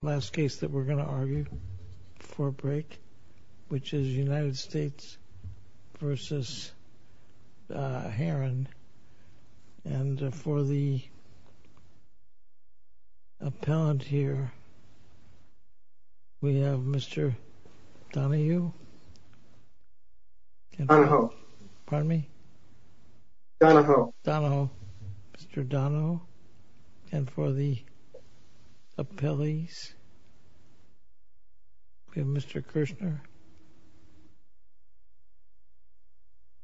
Last case that we're going to argue before break, which is United States v. Herrin. And for the appellant here, we have Mr. Donahue. Donahoe. Pardon me? Donahoe. Mr. Donahoe. And for the appellees, we have Mr. Kirshner.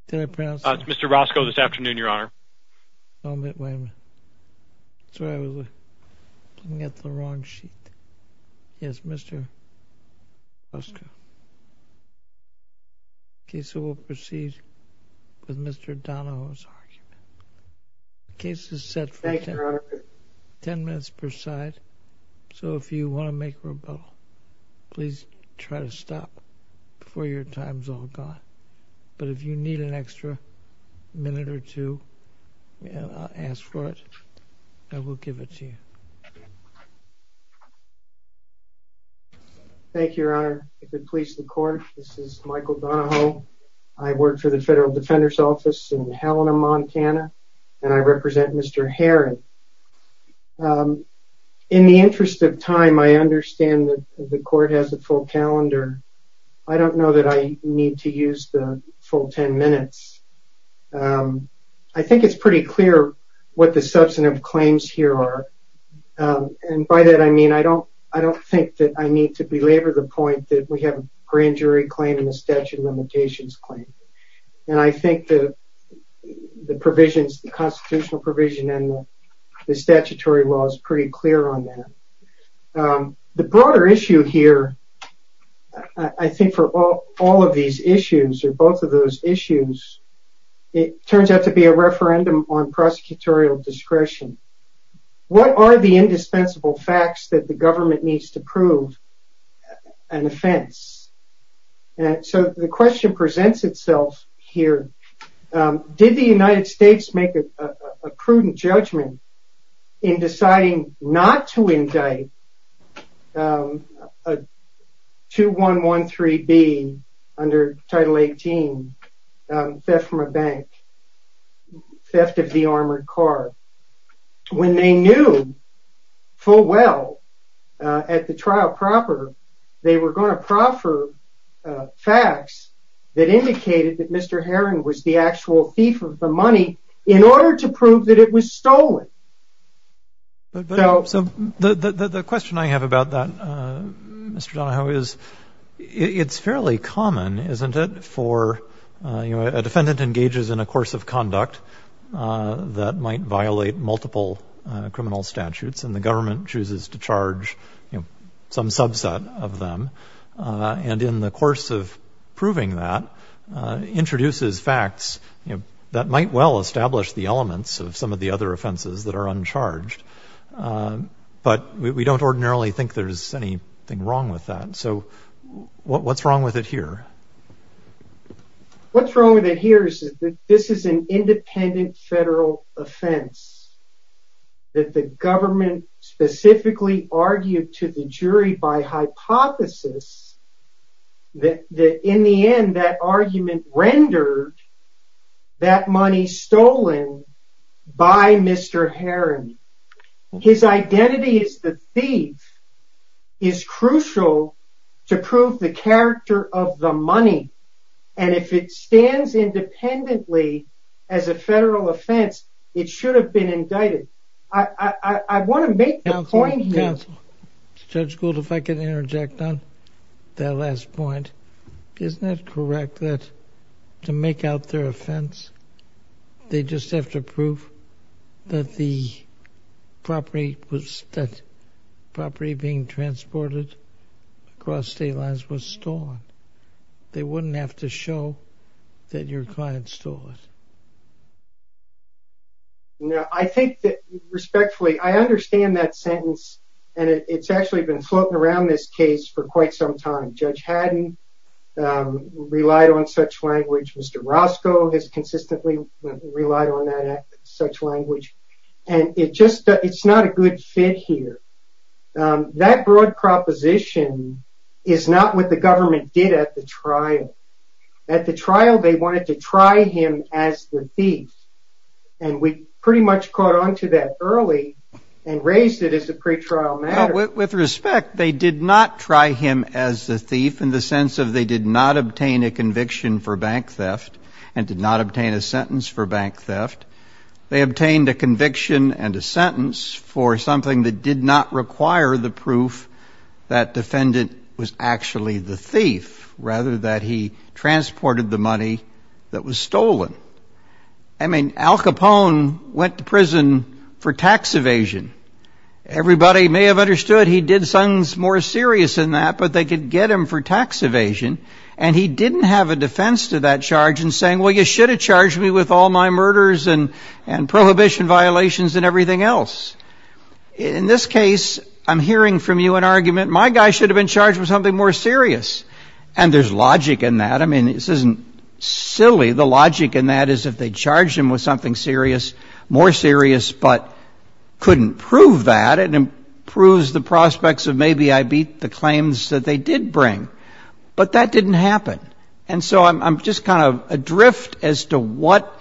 Did I pronounce that? It's Mr. Roscoe this afternoon, Your Honor. Oh, wait a minute. That's where I was. I got the wrong sheet. Yes, Mr. Roscoe. Okay, so we'll proceed with Mr. Donahoe's argument. The case is set for 10 minutes per side. So if you want to make a rebuttal, please try to stop before your time's all gone. But if you need an extra minute or two, ask for it, and we'll give it to you. Thank you, Your Honor. If it pleases the court, this is Michael Donahoe. I work for the Federal Defender's Office in Helena, Montana, and I represent Mr. Herrin. In the interest of time, I understand that the court has a full calendar. I don't know that I need to use the full 10 minutes. I think it's pretty clear what the substantive claims here are, and by that I mean I don't think that I need to belabor the point that we have a grand jury claim and a statute of limitations claim. And I think the provisions, the constitutional provision and the statutory law is pretty clear on that. The broader issue here, I think for all of these issues or both of those issues, it turns out to be a referendum on prosecutorial discretion. What are the indispensable facts that the government needs to prove an offense? And so the question presents itself here. Did the United States make a prudent judgment in deciding not to indict a 2113B under Title 18, theft from a bank, theft of the armored car? When they knew full well at the trial proper, they were going to proffer facts that indicated that Mr. Herrin was the actual thief of the money in order to prove that it was stolen. So the question I have about that, Mr. Donahoe, is it's fairly common, isn't it, for a defendant engages in a course of conduct that might violate multiple criminal statutes and the government chooses to charge some subset of them and in the course of proving that introduces facts that might well establish the elements of some of the other offenses that are uncharged. But we don't ordinarily think there's anything wrong with that. So what's wrong with it here? What's wrong with it here is that this is an independent federal offense that the government specifically argued to the jury by hypothesis that in the end that argument rendered that money stolen by Mr. Herrin. His identity as the thief is crucial to prove the character of the money and if it stands independently as a federal offense, it should have been indicted. I want to make the point here. Judge Gould, if I can interject on that last point. Isn't it correct that to make out their offense, they just have to prove that the property being transported across state lines was stolen. They wouldn't have to show that your client stole it. I think that respectfully, I understand that sentence and it's actually been floating around this case for quite some time. Judge Haddon relied on such language. Mr. Roscoe has consistently relied on such language. It's not a good fit here. That broad proposition is not what the government did at the trial. At the trial, they wanted to try him as the thief and we pretty much caught on to that early and raised it as a pretrial matter. With respect, they did not try him as the thief in the sense of they did not obtain a conviction for bank theft and did not obtain a sentence for bank theft. They obtained a conviction and a sentence for something that did not require the proof that defendant was actually the thief rather that he transported the money that was stolen. I mean, Al Capone went to prison for tax evasion. Everybody may have understood he did something more serious than that but they could get him for tax evasion and he didn't have a defense to that charge in saying, well, you should have charged me with all my murders and prohibition violations and everything else. In this case, I'm hearing from you an argument, my guy should have been charged with something more serious and there's logic in that. I mean, this isn't silly. The logic in that is if they charged him with something serious, more serious but couldn't prove that and proves the prospects of maybe I beat the claims that they did bring but that didn't happen. And so I'm just kind of adrift as to what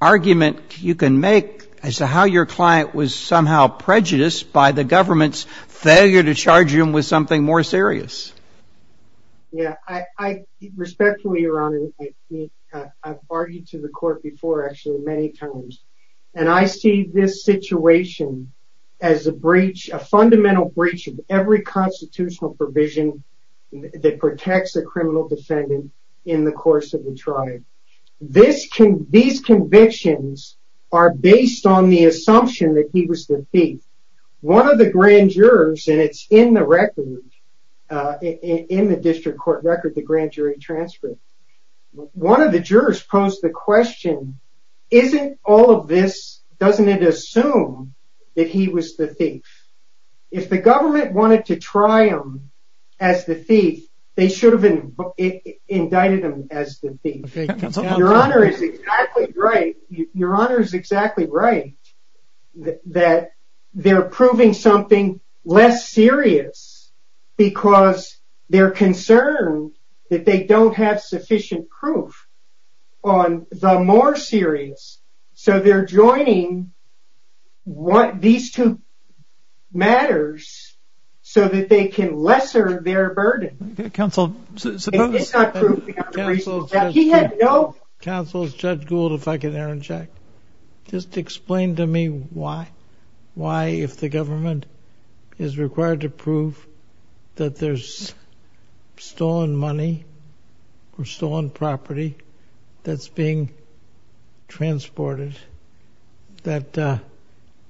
argument you can make as to how your client was somehow prejudiced by the government's failure to charge him with something more serious. Yeah, respectfully, Your Honor, I've argued to the court before actually many times and I see this situation as a breach, a fundamental breach of every constitutional provision that protects a criminal defendant in the course of the trial. These convictions are based on the assumption that he was the thief. One of the grand jurors and it's in the record, in the district court record, the grand jury transcript. One of the jurors posed the question, isn't all of this, doesn't it assume that he was the thief? If the government wanted to try him as the thief, they should have indicted him as the thief. Your Honor is exactly right. Your Honor is exactly right that they're proving something less serious because they're concerned that they don't have sufficient proof on the more serious. So they're joining what these two matters so that they can lesser their burden. Counsel, suppose... It's not proof. Counsel, Judge Gould, if I can interject, just explain to me why, if the government is required to prove that there's stolen money or stolen property that's being transported, that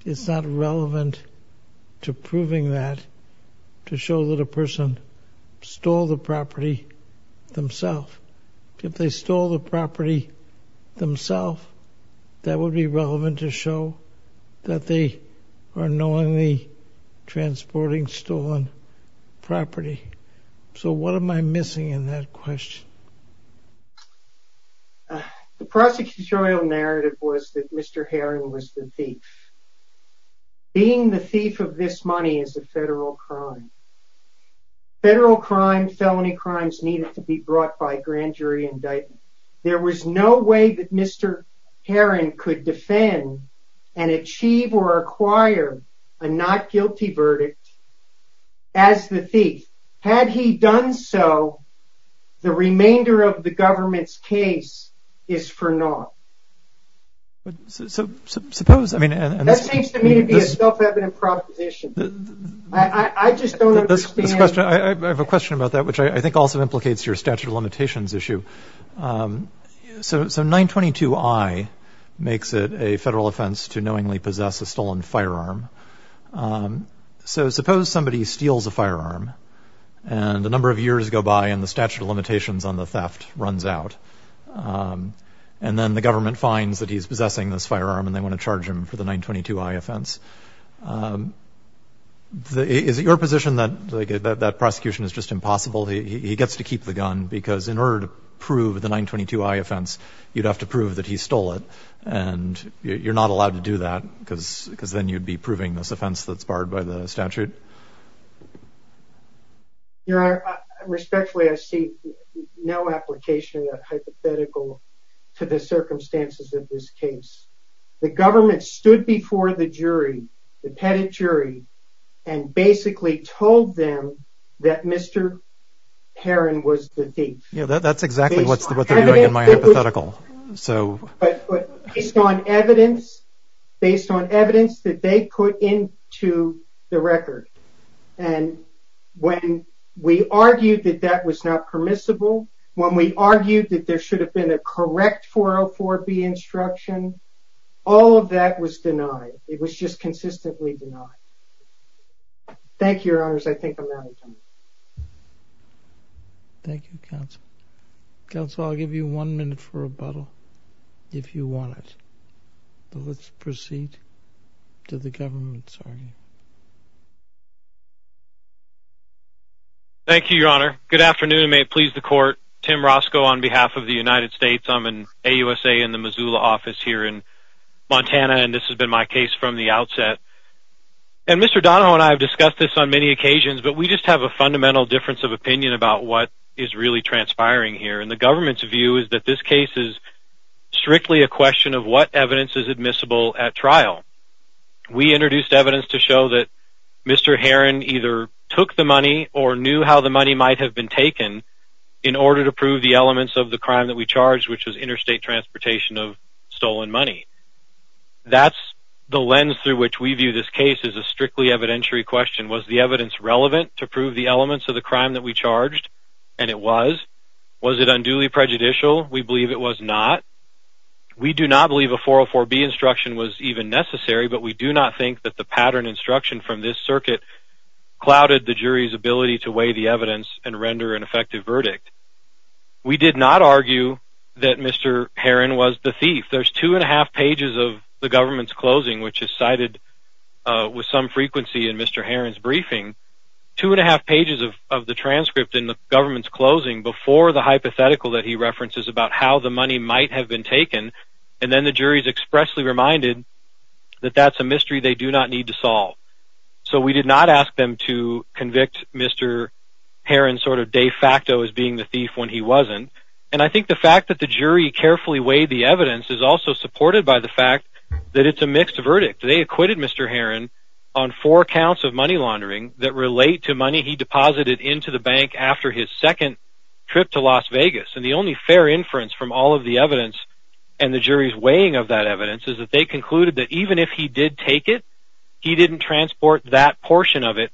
it's not relevant to proving that to show that a person stole the property themselves. If they stole the property themselves, that would be relevant to show that they are knowingly transporting stolen property. So what am I missing in that question? The prosecutorial narrative was that Mr. Herring was the thief. Being the thief of this money is a federal crime. Federal crime, felony crimes needed to be brought by grand jury indictment. There was no way that Mr. Herring could defend and achieve or acquire a not guilty verdict as the thief. Had he done so, the remainder of the government's case is for naught. That seems to me to be a self-evident proposition. I just don't understand... I have a question about that, which I think also implicates your statute of limitations issue. So 922I makes it a federal offense to knowingly possess a stolen firearm. So suppose somebody steals a firearm and a number of years go by and the statute of limitations on the theft runs out. And then the government finds that he's possessing this firearm and they want to charge him for the 922I offense. Is it your position that that prosecution is just impossible? He gets to keep the gun because in order to prove the 922I offense, you'd have to prove that he stole it. And you're not allowed to do that because then you'd be proving this offense that's barred by the statute. Your Honor, respectfully, I see no application of hypothetical to the circumstances of this case. The government stood before the jury, the pettit jury, and basically told them that Mr. Heron was the thief. Yeah, that's exactly what they're doing in my hypothetical. Based on evidence that they put into the record. And when we argued that that was not permissible, when we argued that there should have been a correct 404B instruction, all of that was denied. It was just consistently denied. Thank you, Your Honors. I think I'm out of time. Thank you, Counsel. Counsel, I'll give you one minute for rebuttal if you want it. Let's proceed to the government's argument. Thank you, Your Honor. Good afternoon. May it please the Court. Tim Roscoe on behalf of the United States. I'm in AUSA in the Missoula office here in Montana, and this has been my case from the outset. And Mr. Donohoe and I have discussed this on many occasions, but we just have a fundamental difference of opinion about what is really transpiring here. And the government's view is that this case is strictly a question of what evidence is admissible at trial. We introduced evidence to show that Mr. Heron either took the money or knew how the money might have been taken in order to prove the elements of the crime that we charged, which was interstate transportation of stolen money. That's the lens through which we view this case as a strictly evidentiary question. Was the evidence relevant to prove the elements of the crime that we charged? And it was. Was it unduly prejudicial? We believe it was not. We do not believe a 404B instruction was even necessary, but we do not think that the pattern instruction from this circuit clouded the jury's ability to weigh the evidence and render an effective verdict. We did not argue that Mr. Heron was the thief. There's two and a half pages of the government's closing, which is cited with some frequency in Mr. Heron's briefing, two and a half pages of the transcript in the government's closing before the hypothetical that he references about how the money might have been taken, and then the jury is expressly reminded that that's a mystery they do not need to solve. So we did not ask them to convict Mr. Heron sort of de facto as being the thief when he wasn't. And I think the fact that the jury carefully weighed the evidence is also supported by the fact that it's a mixed verdict. They acquitted Mr. Heron on four counts of money laundering that relate to money he deposited into the bank after his second trip to Las Vegas. And the only fair inference from all of the evidence and the jury's weighing of that evidence is that they concluded that even if he did take it, he didn't transport that portion of it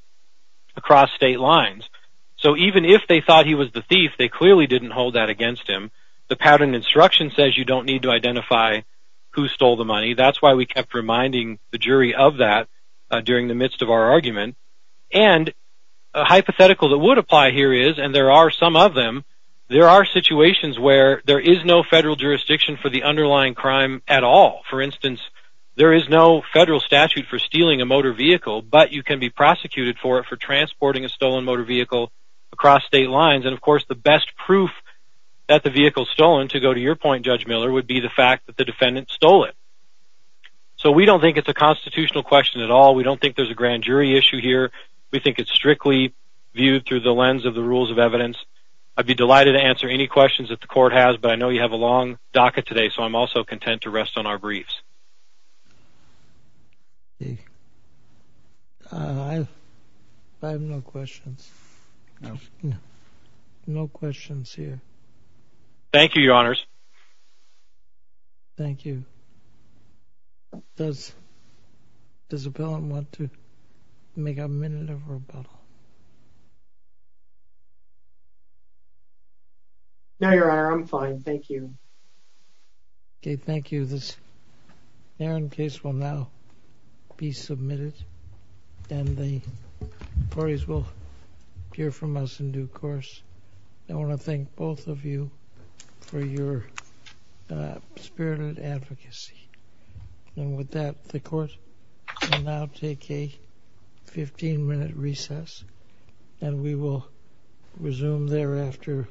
across state lines. So even if they thought he was the thief, they clearly didn't hold that against him. The pattern instruction says you don't need to identify who stole the money. That's why we kept reminding the jury of that during the midst of our argument. And a hypothetical that would apply here is, and there are some of them, there are situations where there is no federal jurisdiction for the underlying crime at all. For instance, there is no federal statute for stealing a motor vehicle, but you can be prosecuted for it, for transporting a stolen motor vehicle across state lines. And, of course, the best proof that the vehicle's stolen, to go to your point, Judge Miller, would be the fact that the defendant stole it. So we don't think it's a constitutional question at all. We don't think there's a grand jury issue here. We think it's strictly viewed through the lens of the rules of evidence. I'd be delighted to answer any questions that the court has, but I know you have a long docket today, so I'm also content to rest on our briefs. I have no questions. No? No questions here. Thank you, Your Honors. Thank you. Does the appellant want to make a minute of rebuttal? No, Your Honor, I'm fine. Thank you. Okay, thank you. This hearing case will now be submitted, and the parties will hear from us in due course. I want to thank both of you for your spirited advocacy. And with that, the court will now take a 15-minute recess. And we will resume thereafter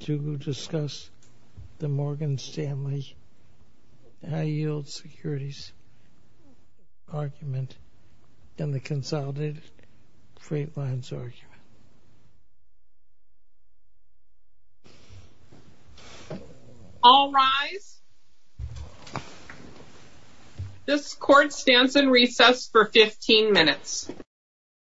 to discuss the Morgan Stanley high-yield securities argument and the consolidated freight lines argument. All rise. This court stands in recess for 15 minutes.